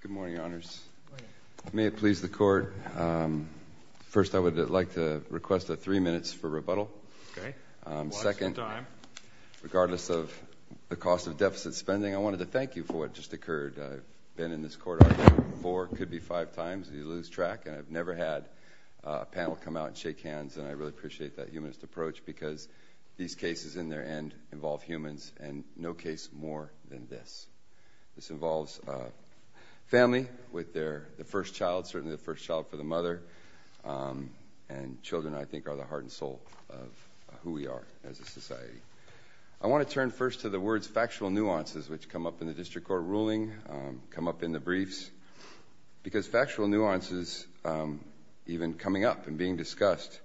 Good morning, Your Honors. May it please the Court. First, I would like to request a three minutes for rebuttal. Okay. One at a time. Second, regardless of the cost of deficit spending, I wanted to thank you for what just occurred. I've been in this Court, I think, four, could be five times, and you lose track. And I've never had a panel come out and shake hands, and I really appreciate that humanist approach because these cases, in their end, involve humans, and no case more than this. This involves family, with the first child, certainly the first child for the mother, and children, I think, are the heart and soul of who we are as a society. I want to turn first to the words, factual nuances, which come up in the District Court ruling, come up in the briefs, because factual nuances, even coming up and being discussed,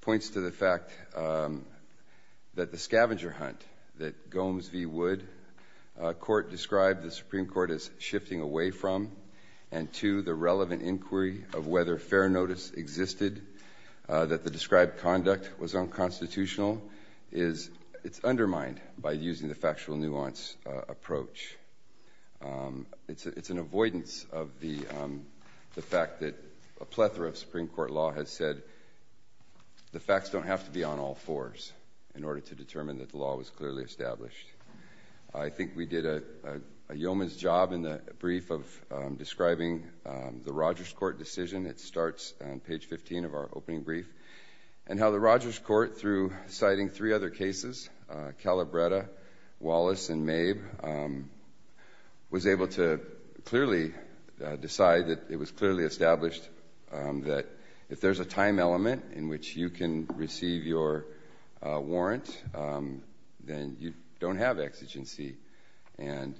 points to the fact that the scavenger hunt that Gomes v. Wood Court described the Supreme Court as shifting away from, and two, the relevant inquiry of whether fair notice existed, that the described conduct was unconstitutional, is undermined by using the factual nuance approach. It's an avoidance of the fact that a plethora of Supreme Court law has said the facts don't have to be on all fours in order to determine that the law was clearly established. I think we did a yeoman's job in the brief of describing the Rogers Court decision. It starts on page 15 of our opening brief. And how the Rogers Court, through citing three other cases, Calabretta, Wallace, and Mabe, was able to clearly decide that it was clearly established that if there's a time element in which you can receive your warrant, then you don't have exigency. And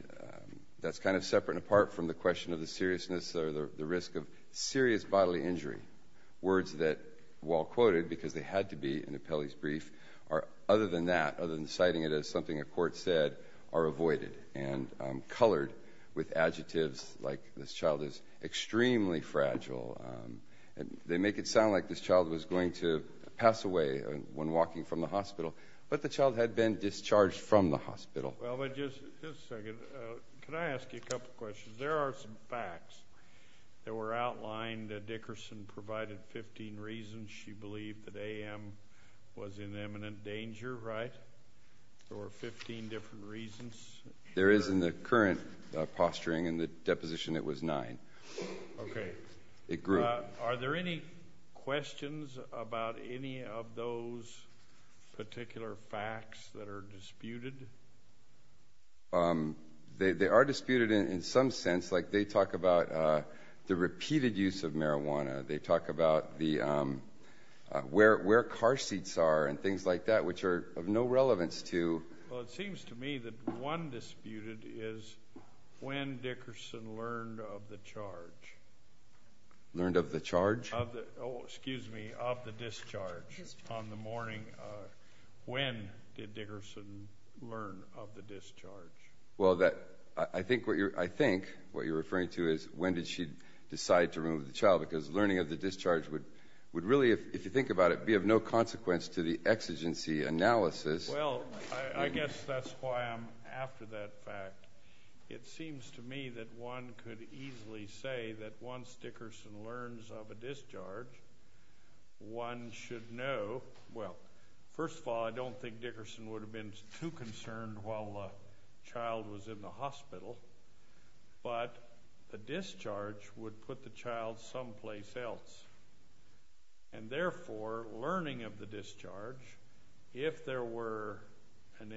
that's kind of separate, apart from the question of the seriousness or the risk of serious bodily injury. Words that, while quoted because they had to be in Appelli's brief, are, other than that, other than citing it as something a court said, are avoided and colored with adjectives like, this child is extremely fragile. They make it sound like this child was going to pass away when walking from the hospital, but the child had been discharged from the hospital. Just a second. Can I ask you a couple questions? There are some facts that were outlined that Dickerson provided 15 reasons she believed that A.M. was in imminent danger, right? There were 15 different reasons? There is, in the current posturing and the deposition, it was nine. Okay. It grew. Are there any questions about any of those particular facts that are disputed? They are disputed in some sense. Like, they talk about the repeated use of marijuana. They talk about where car seats are and things like that, which are of no relevance to ‑‑ Well, it seems to me that one disputed is when Dickerson learned of the charge. Learned of the charge? Oh, excuse me, of the discharge on the morning. When did Dickerson learn of the discharge? Well, I think what you're referring to is when did she decide to remove the child, because learning of the discharge would really, if you think about it, be of no consequence to the exigency analysis. Well, I guess that's why I'm after that fact. It seems to me that one could easily say that once Dickerson learns of a discharge, one should know. Well, first of all, I don't think Dickerson would have been too concerned while the child was in the hospital, but the discharge would put the child someplace else. And therefore, learning of the discharge, if there were an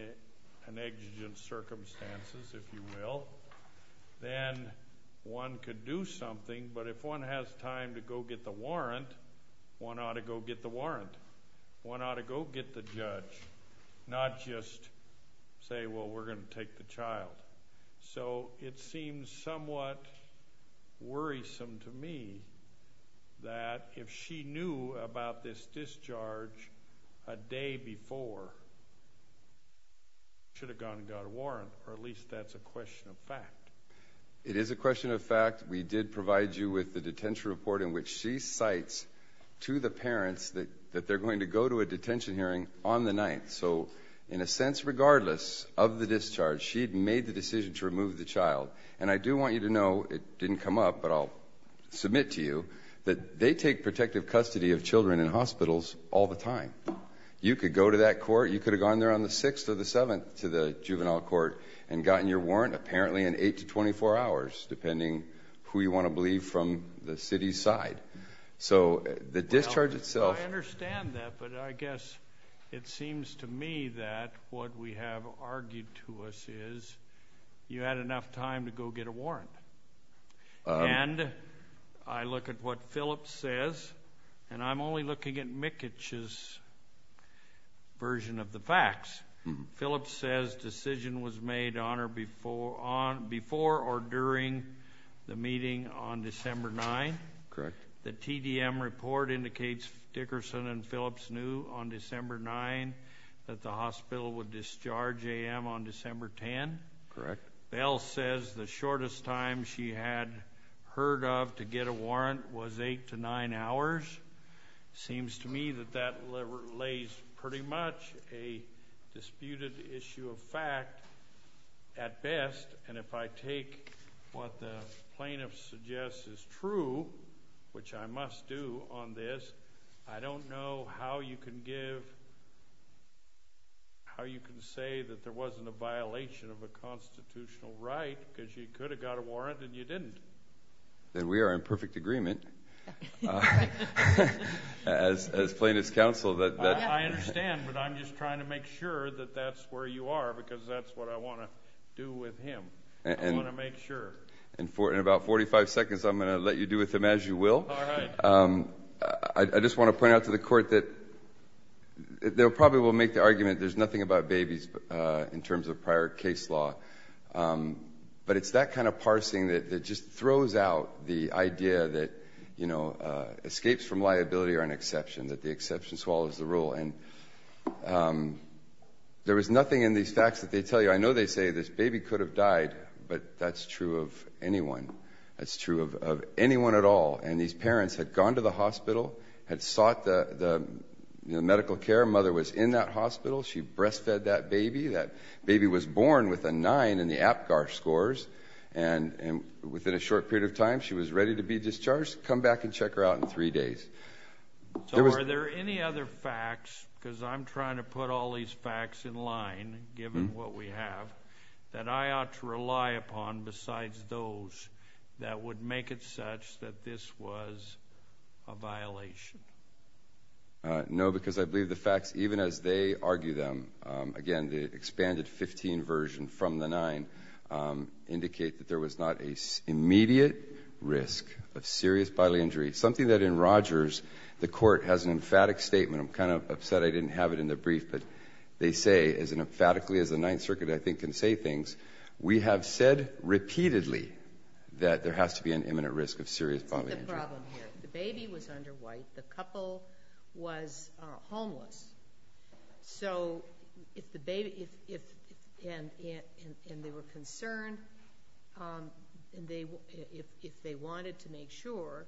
exigent circumstances, if you will, then one could do something, but if one has time to go get the warrant, one ought to go get the warrant. One ought to go get the judge, not just say, well, we're going to take the child. So it seems somewhat worrisome to me that if she knew about this discharge a day before, she should have gone and got a warrant, or at least that's a question of fact. It is a question of fact. We did provide you with the detention report in which she cites to the parents that they're going to go to a detention hearing on the 9th. So in a sense, regardless of the discharge, she had made the decision to remove the child. And I do want you to know, it didn't come up, but I'll submit to you, that they take protective custody of children in hospitals all the time. You could go to that court. You could have gone there on the 6th or the 7th to the juvenile court and gotten your warrant apparently in 8 to 24 hours, depending who you want to believe from the city's side. So the discharge itself. I understand that, but I guess it seems to me that what we have argued to us is you had enough time to go get a warrant. And I look at what Phillips says, and I'm only looking at Mikich's version of the facts. Phillips says decision was made before or during the meeting on December 9th. Correct. The TDM report indicates Dickerson and Phillips knew on December 9th that the hospital would discharge A.M. on December 10th. Correct. Bell says the shortest time she had heard of to get a warrant was 8 to 9 hours. Seems to me that that lays pretty much a disputed issue of fact at best. And if I take what the plaintiff suggests is true, which I must do on this, I don't know how you can give, how you can say that there wasn't a violation of a constitutional right because you could have got a warrant and you didn't. Then we are in perfect agreement as plaintiff's counsel. I understand, but I'm just trying to make sure that that's where you are because that's what I want to do with him. I want to make sure. In about 45 seconds, I'm going to let you do with him as you will. All right. I just want to point out to the Court that they probably will make the argument there's nothing about babies in terms of prior case law, but it's that kind of parsing that just throws out the idea that escapes from liability are an exception, that the exception swallows the rule. And there was nothing in these facts that they tell you. I know they say this baby could have died, but that's true of anyone. That's true of anyone at all. And these parents had gone to the hospital, had sought the medical care. Mother was in that hospital. She breastfed that baby. That baby was born with a 9 in the APGAR scores. And within a short period of time, she was ready to be discharged. Come back and check her out in three days. So are there any other facts, because I'm trying to put all these facts in line given what we have, that I ought to rely upon besides those that would make it such that this was a violation? No, because I believe the facts, even as they argue them, again, the expanded 15 version from the 9, indicate that there was not an immediate risk of serious bodily injury, something that in Rogers the court has an emphatic statement. I'm kind of upset I didn't have it in the brief, but they say as emphatically as the Ninth Circuit I think can say things, we have said repeatedly that there has to be an imminent risk of serious bodily injury. That's the problem here. The baby was under white. The couple was homeless. So if the baby, and they were concerned, if they wanted to make sure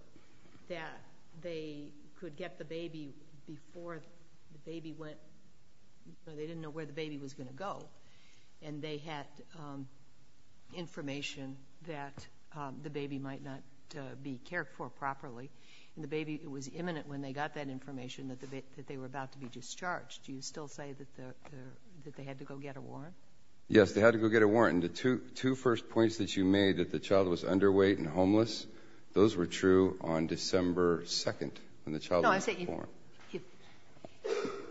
that they could get the baby before the baby went, they didn't know where the baby was going to go, and they had information that the baby might not be cared for properly, and the baby was imminent when they got that information that they were about to be discharged, do you still say that they had to go get a warrant? Yes, they had to go get a warrant. And the two first points that you made, that the child was underweight and homeless, those were true on December 2nd, when the child was born. No, I'm saying you.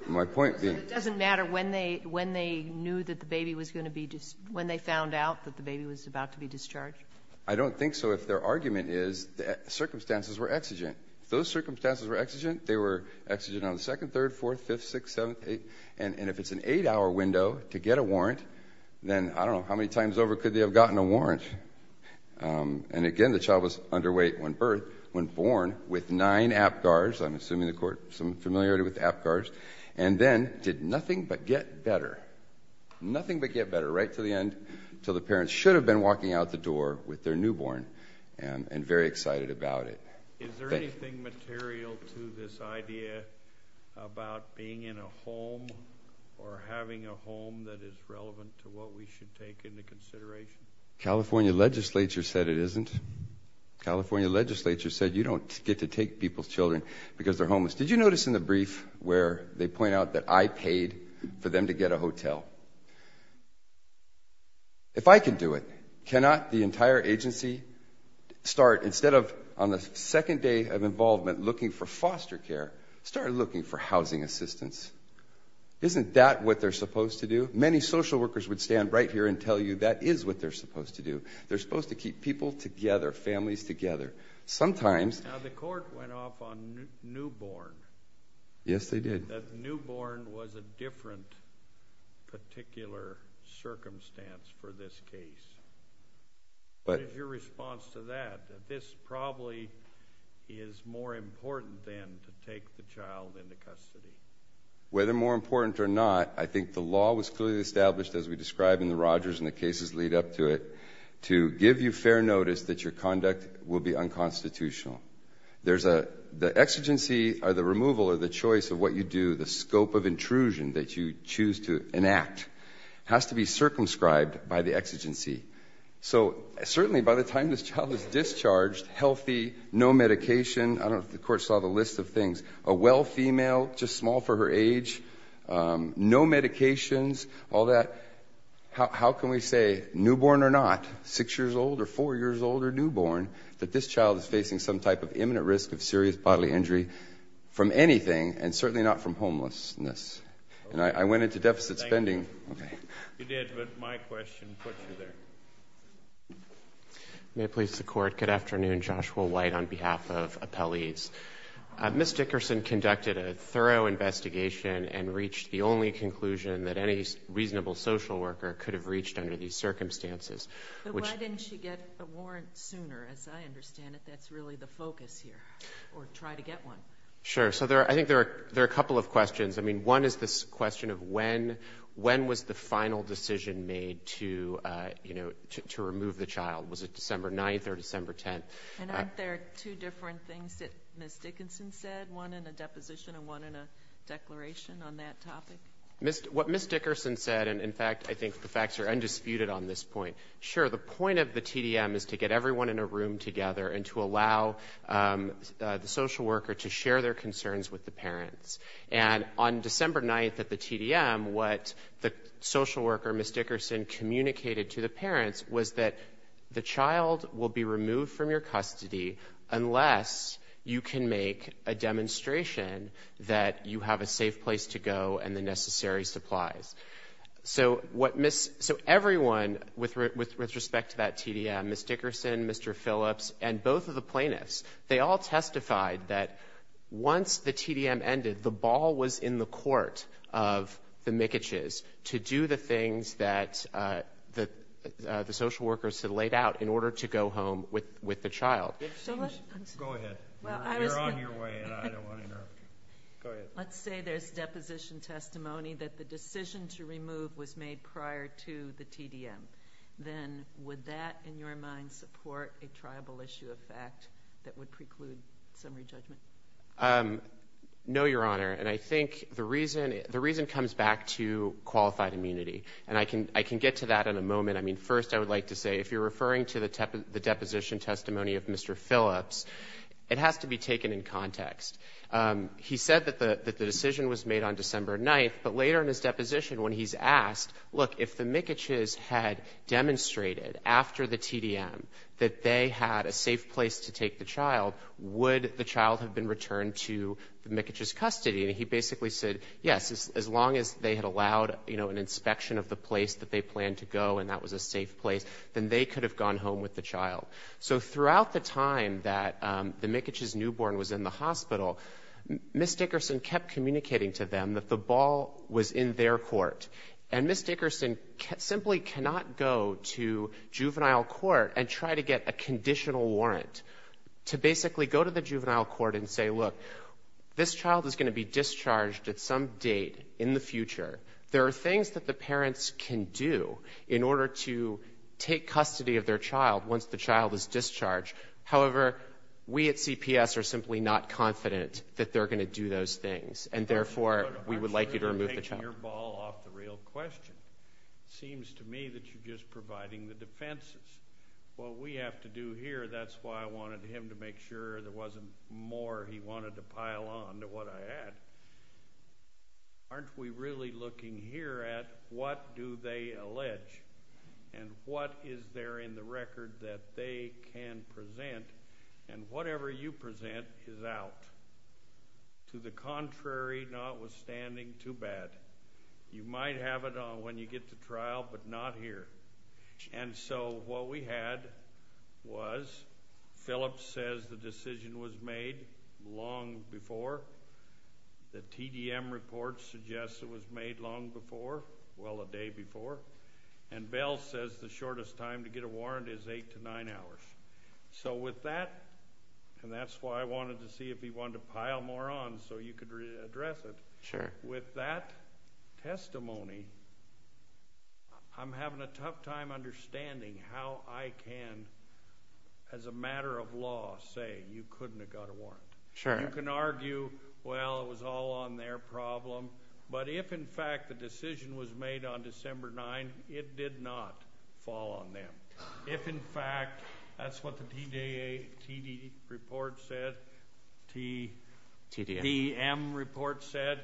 My point being. So it doesn't matter when they knew that the baby was going to be, when they found out that the baby was about to be discharged? I don't think so if their argument is that circumstances were exigent. If those circumstances were exigent, they were exigent on the 2nd, 3rd, 4th, 5th, 6th, 7th, 8th. And if it's an eight-hour window to get a warrant, then I don't know how many times over could they have gotten a warrant. And, again, the child was underweight when birth, when born, with nine APGARs. I'm assuming the Court has some familiarity with APGARs. And then did nothing but get better. Nothing but get better, right to the end, until the parents should have been walking out the door with their newborn and very excited about it. Is there anything material to this idea about being in a home or having a home that is relevant to what we should take into consideration? California legislature said it isn't. California legislature said you don't get to take people's children because they're homeless. Did you notice in the brief where they point out that I paid for them to get a hotel? If I can do it, cannot the entire agency start, instead of on the second day of involvement looking for foster care, start looking for housing assistance? Isn't that what they're supposed to do? Many social workers would stand right here and tell you that is what they're supposed to do. They're supposed to keep people together, families together. Now, the Court went off on newborn. Yes, they did. That newborn was a different particular circumstance for this case. What is your response to that, that this probably is more important than to take the child into custody? Whether more important or not, I think the law was clearly established, as we described in the Rogers and the cases lead up to it, to give you fair notice that your conduct will be unconstitutional. The exigency or the removal or the choice of what you do, the scope of intrusion that you choose to enact, has to be circumscribed by the exigency. So certainly by the time this child is discharged, healthy, no medication, I don't know if the Court saw the list of things, a well female, just small for her age, no medications, all that. How can we say newborn or not, six years old or four years old or newborn, that this child is facing some type of imminent risk of serious bodily injury from anything, and certainly not from homelessness? I went into deficit spending. You did, but my question put you there. May it please the Court. Good afternoon. Joshua White on behalf of appellees. Ms. Dickerson conducted a thorough investigation and reached the only conclusion that any reasonable social worker could have reached under these circumstances. Why didn't she get a warrant sooner? As I understand it, that's really the focus here, or try to get one. Sure. I think there are a couple of questions. One is this question of when was the final decision made to remove the child. Was it December 9th or December 10th? Aren't there two different things that Ms. Dickerson said, one in a deposition and one in a declaration on that topic? What Ms. Dickerson said, and, in fact, I think the facts are undisputed on this point. Sure, the point of the TDM is to get everyone in a room together and to allow the social worker to share their concerns with the parents. And on December 9th at the TDM, what the social worker, Ms. Dickerson, communicated to the parents was that the child will be removed from your custody unless you can make a demonstration that you have a safe place to go and the necessary supplies. So what Ms. — so everyone with respect to that TDM, Ms. Dickerson, Mr. Phillips, and both of the plaintiffs, they all testified that once the TDM ended, the ball was in the court of the Mikitches to do the things that the social workers had laid out in order to go home with the child. Go ahead. You're on your way, and I don't want to interrupt you. Go ahead. Let's say there's deposition testimony that the decision to remove was made prior to the TDM. Then would that, in your mind, support a tribal issue of fact that would preclude summary judgment? No, Your Honor. And I think the reason comes back to qualified immunity, and I can get to that in a moment. I mean, first I would like to say, if you're referring to the deposition testimony of Mr. Phillips, it has to be taken in context. He said that the decision was made on December 9th, but later in his deposition when he's asked, look, if the Mikitches had demonstrated after the TDM that they had a safe place to take the child, would the child have been returned to the Mikitches' custody? And he basically said, yes. As long as they had allowed an inspection of the place that they planned to go and that was a safe place, then they could have gone home with the child. So throughout the time that the Mikitches' newborn was in the hospital, Ms. Dickerson kept communicating to them that the ball was in their court, and Ms. Dickerson simply cannot go to juvenile court and try to get a conditional warrant to basically go to the juvenile court and say, look, this child is going to be discharged at some date in the future. There are things that the parents can do in order to take custody of their child once the child is discharged. However, we at CPS are simply not confident that they're going to do those things, and therefore we would like you to remove the child. I'm sure you're taking your ball off the real question. It seems to me that you're just providing the defenses. What we have to do here, that's why I wanted him to make sure there wasn't more he wanted to pile on to what I had. Aren't we really looking here at what do they allege and what is there in the record that they can present? And whatever you present is out. To the contrary, notwithstanding, too bad. You might have it when you get to trial, but not here. And so what we had was Phillips says the decision was made long before. The TDM report suggests it was made long before, well, a day before. And Bell says the shortest time to get a warrant is eight to nine hours. So with that, and that's why I wanted to see if he wanted to pile more on so you could address it. With that testimony, I'm having a tough time understanding how I can, as a matter of law, say you couldn't have got a warrant. You can argue, well, it was all on their problem. But if, in fact, the decision was made on December 9th, it did not fall on them. If, in fact, that's what the TD report said, TDM report said,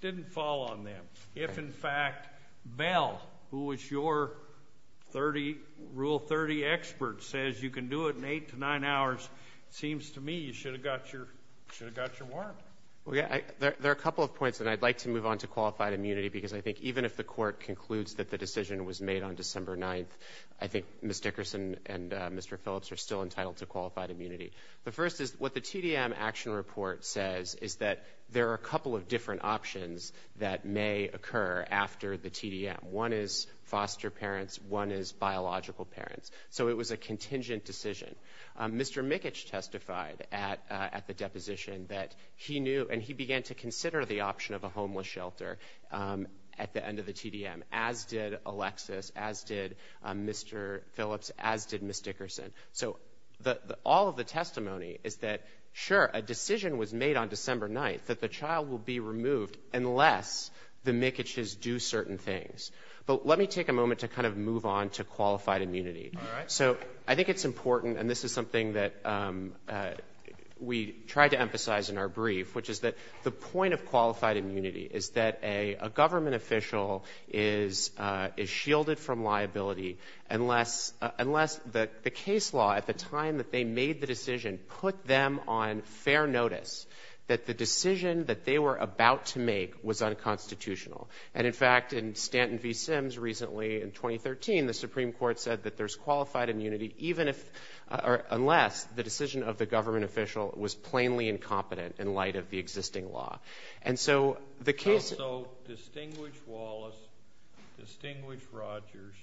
didn't fall on them. If, in fact, Bell, who was your Rule 30 expert, says you can do it in eight to nine hours, it seems to me you should have got your warrant. There are a couple of points, and I'd like to move on to qualified immunity because I think even if the court concludes that the decision was made on December 9th, I think Ms. Dickerson and Mr. Phillips are still entitled to qualified immunity. The first is what the TDM action report says is that there are a couple of different options that may occur after the TDM. One is foster parents. One is biological parents. So it was a contingent decision. Mr. Mikic testified at the deposition that he knew, and he began to consider the option of a homeless shelter at the end of the TDM, as did Alexis, as did Mr. Phillips, as did Ms. Dickerson. So all of the testimony is that, sure, a decision was made on December 9th that the child will be removed unless the Mikic's do certain things. But let me take a moment to kind of move on to qualified immunity. All right. So I think it's important, and this is something that we tried to emphasize in our brief, which is that the point of qualified immunity is that a government official is shielded from liability unless the case law at the time that they made the decision put them on fair notice that the decision that they were about to make was unconstitutional. And, in fact, in Stanton v. Sims recently in 2013, the Supreme Court said that there's qualified immunity even if or unless the decision of the government official was plainly incompetent in light of the existing law. And so the case. So distinguished Wallace, distinguished Rogers,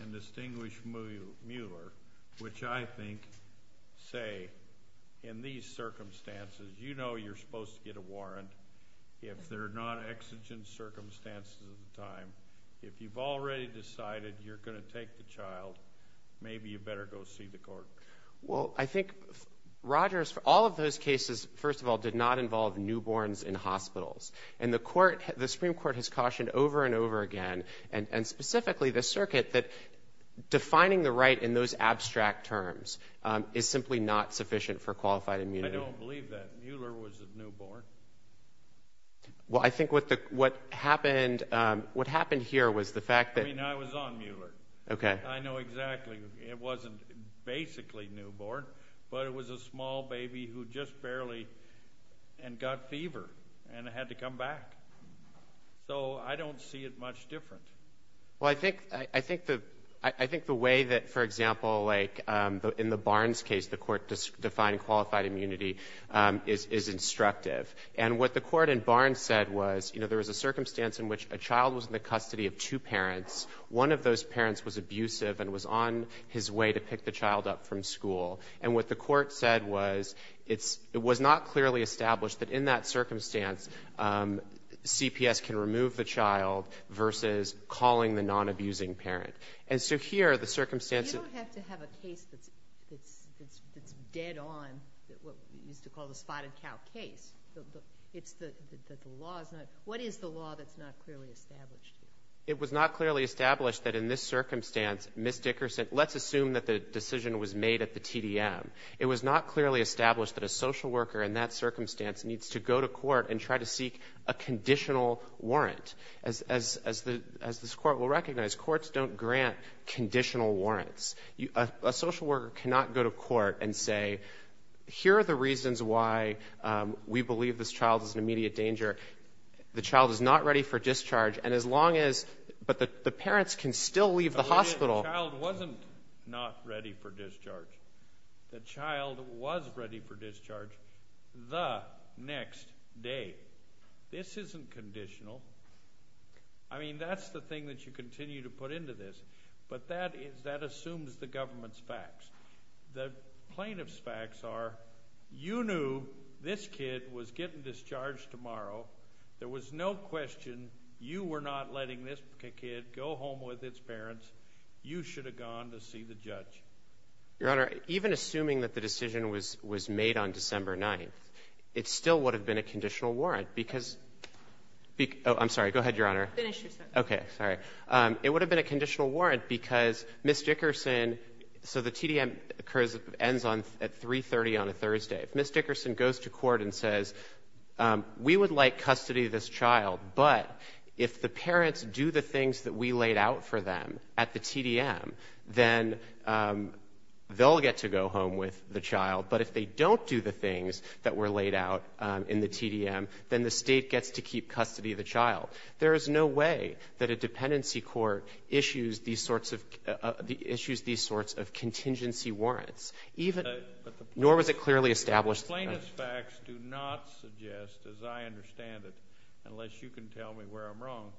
and distinguished Mueller, which I think say in these circumstances you know you're supposed to get a warrant if they're non-exigent circumstances at the time. If you've already decided you're going to take the child, maybe you better go see the court. Well, I think Rogers, all of those cases, first of all, did not involve newborns in hospitals. And the Supreme Court has cautioned over and over again, and specifically the circuit, that defining the right in those abstract terms is simply not sufficient for qualified immunity. I don't believe that. Mueller was a newborn. Well, I think what happened here was the fact that- I mean, I was on Mueller. Okay. I know exactly. It wasn't basically newborn, but it was a small baby who just barely got fever and had to come back. So I don't see it much different. Well, I think the way that, for example, like in the Barnes case, the court defined qualified immunity is instructive. And what the court in Barnes said was, you know, there was a circumstance in which a child was in the custody of two parents. One of those parents was abusive and was on his way to pick the child up from school. And what the court said was it was not clearly established that in that circumstance CPS can remove the child versus calling the non-abusing parent. And so here the circumstances- It's dead on what we used to call the spotted cow case. It's the law's not-what is the law that's not clearly established here? It was not clearly established that in this circumstance, Ms. Dickerson-let's assume that the decision was made at the TDM. It was not clearly established that a social worker in that circumstance needs to go to court and try to seek a conditional warrant. As this Court will recognize, courts don't grant conditional warrants. A social worker cannot go to court and say, here are the reasons why we believe this child is in immediate danger. The child is not ready for discharge. And as long as-but the parents can still leave the hospital. The child wasn't not ready for discharge. The child was ready for discharge the next day. This isn't conditional. I mean, that's the thing that you continue to put into this. But that assumes the government's facts. The plaintiff's facts are, you knew this kid was getting discharged tomorrow. There was no question you were not letting this kid go home with its parents. You should have gone to see the judge. Your Honor, even assuming that the decision was made on December 9th, it still would have been a conditional warrant because-oh, I'm sorry. Go ahead, Your Honor. Finish your sentence. Okay, sorry. It would have been a conditional warrant because Ms. Dickerson-so the TDM occurs and ends at 3.30 on a Thursday. If Ms. Dickerson goes to court and says, we would like custody of this child, but if the parents do the things that we laid out for them at the TDM, then they'll get to go home with the child. But if they don't do the things that were laid out in the TDM, then the State gets to keep custody of the child. There is no way that a dependency court issues these sorts of contingency warrants, nor was it clearly established to the judge. The plaintiff's facts do not suggest, as I understand it, unless you can tell me where I'm wrong,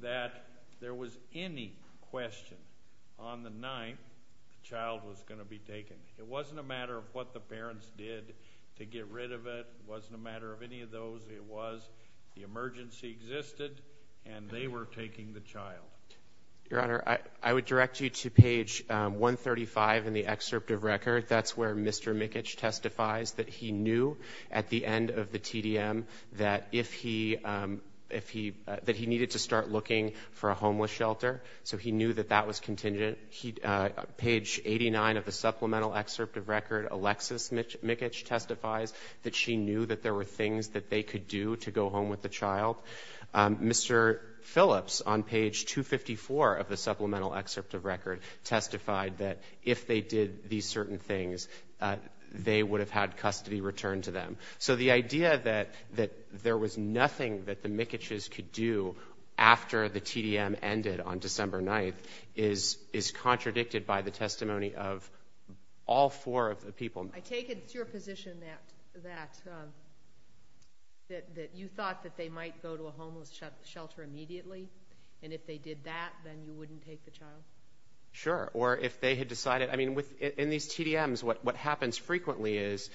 that there was any question on the night the child was going to be taken. It wasn't a matter of what the parents did to get rid of it. It wasn't a matter of any of those. It was the emergency existed, and they were taking the child. Your Honor, I would direct you to page 135 in the excerpt of record. That's where Mr. Mickich testifies that he knew at the end of the TDM that he needed to start looking for a homeless shelter. So he knew that that was contingent. Page 89 of the supplemental excerpt of record, Alexis Mickich testifies that she knew that there were things that they could do to go home with the child. Mr. Phillips, on page 254 of the supplemental excerpt of record, testified that if they did these certain things, they would have had custody returned to them. So the idea that there was nothing that the Mickichs could do after the TDM ended on December 9th is contradicted by the testimony of all four of the people. I take it it's your position that you thought that they might go to a homeless shelter immediately, and if they did that, then you wouldn't take the child? Sure, or if they had decided. In these TDMs, what happens frequently is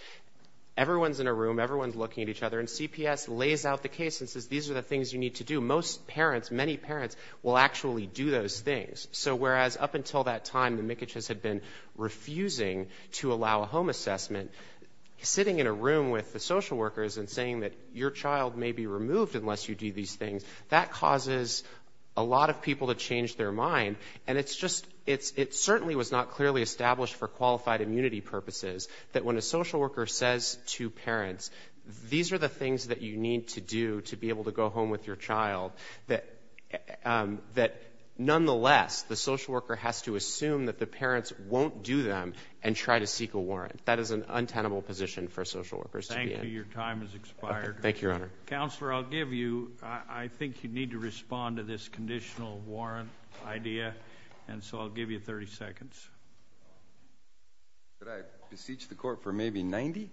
everyone's in a room, everyone's looking at each other, and CPS lays out the case and says these are the things you need to do. Most parents, many parents, will actually do those things. So whereas up until that time the Mickichs had been refusing to allow a home assessment, sitting in a room with the social workers and saying that your child may be removed unless you do these things, that causes a lot of people to change their mind. And it's just, it certainly was not clearly established for qualified immunity purposes that when a social worker says to parents, these are the things that you need to do to be able to go home with your child, that nonetheless the social worker has to assume that the parents won't do them and try to seek a warrant. That is an untenable position for social workers to be in. Thank you. Your time has expired. Thank you, Your Honor. Counselor, I'll give you, I think you need to respond to this conditional warrant idea, and so I'll give you 30 seconds. Could I beseech the court for maybe 90?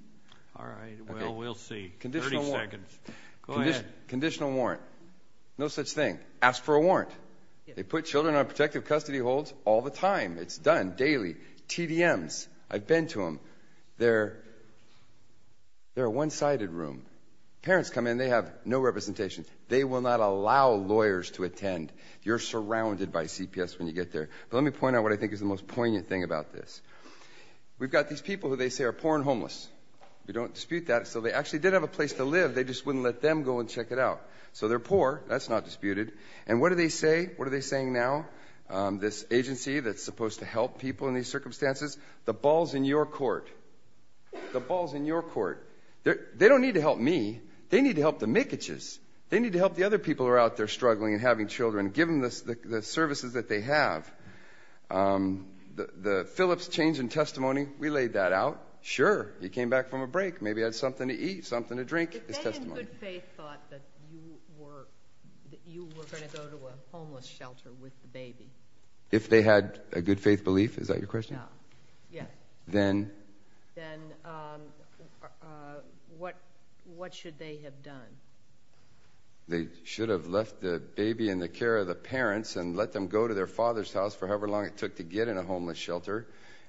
All right, well, we'll see. 30 seconds. Go ahead. Conditional warrant. No such thing. Ask for a warrant. They put children on protective custody holds all the time. It's done daily. TDMs. I've been to them. They're a one-sided room. Parents come in, they have no representation. They will not allow lawyers to attend. You're surrounded by CPS when you get there. But let me point out what I think is the most poignant thing about this. We've got these people who they say are poor and homeless. We don't dispute that. So they actually did have a place to live. They just wouldn't let them go and check it out. So they're poor. That's not disputed. And what do they say? What are they saying now? This agency that's supposed to help people in these circumstances? The ball's in your court. The ball's in your court. They don't need to help me. They need to help the Mikitches. They need to help the other people who are out there struggling and having children. Give them the services that they have. The Phillips change in testimony, we laid that out. Sure, he came back from a break. Maybe he had something to eat, something to drink. It's testimony. If they in good faith thought that you were going to go to a homeless shelter with the baby. If they had a good faith belief, is that your question? Yes. Then? Then what should they have done? They should have left the baby in the care of the parents and let them go to their father's house for however long it took to get in a homeless shelter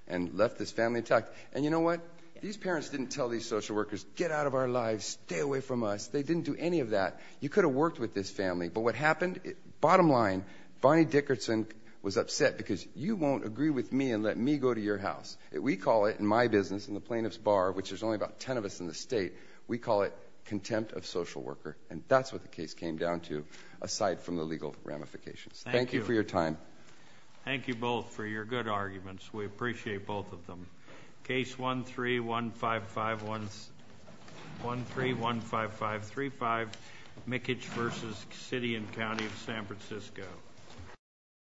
and left this family intact. And you know what? These parents didn't tell these social workers, get out of our lives, stay away from us. They didn't do any of that. You could have worked with this family. But what happened? Bottom line, Bonnie Dickerson was upset because you won't agree with me and let me go to your house. We call it in my business, in the plaintiff's bar, which there's only about 10 of us in the state, we call it contempt of social worker. And that's what the case came down to aside from the legal ramifications. Thank you for your time. Thank you both for your good arguments. We appreciate both of them. Case 1315535, Mickage v. City and County of San Francisco.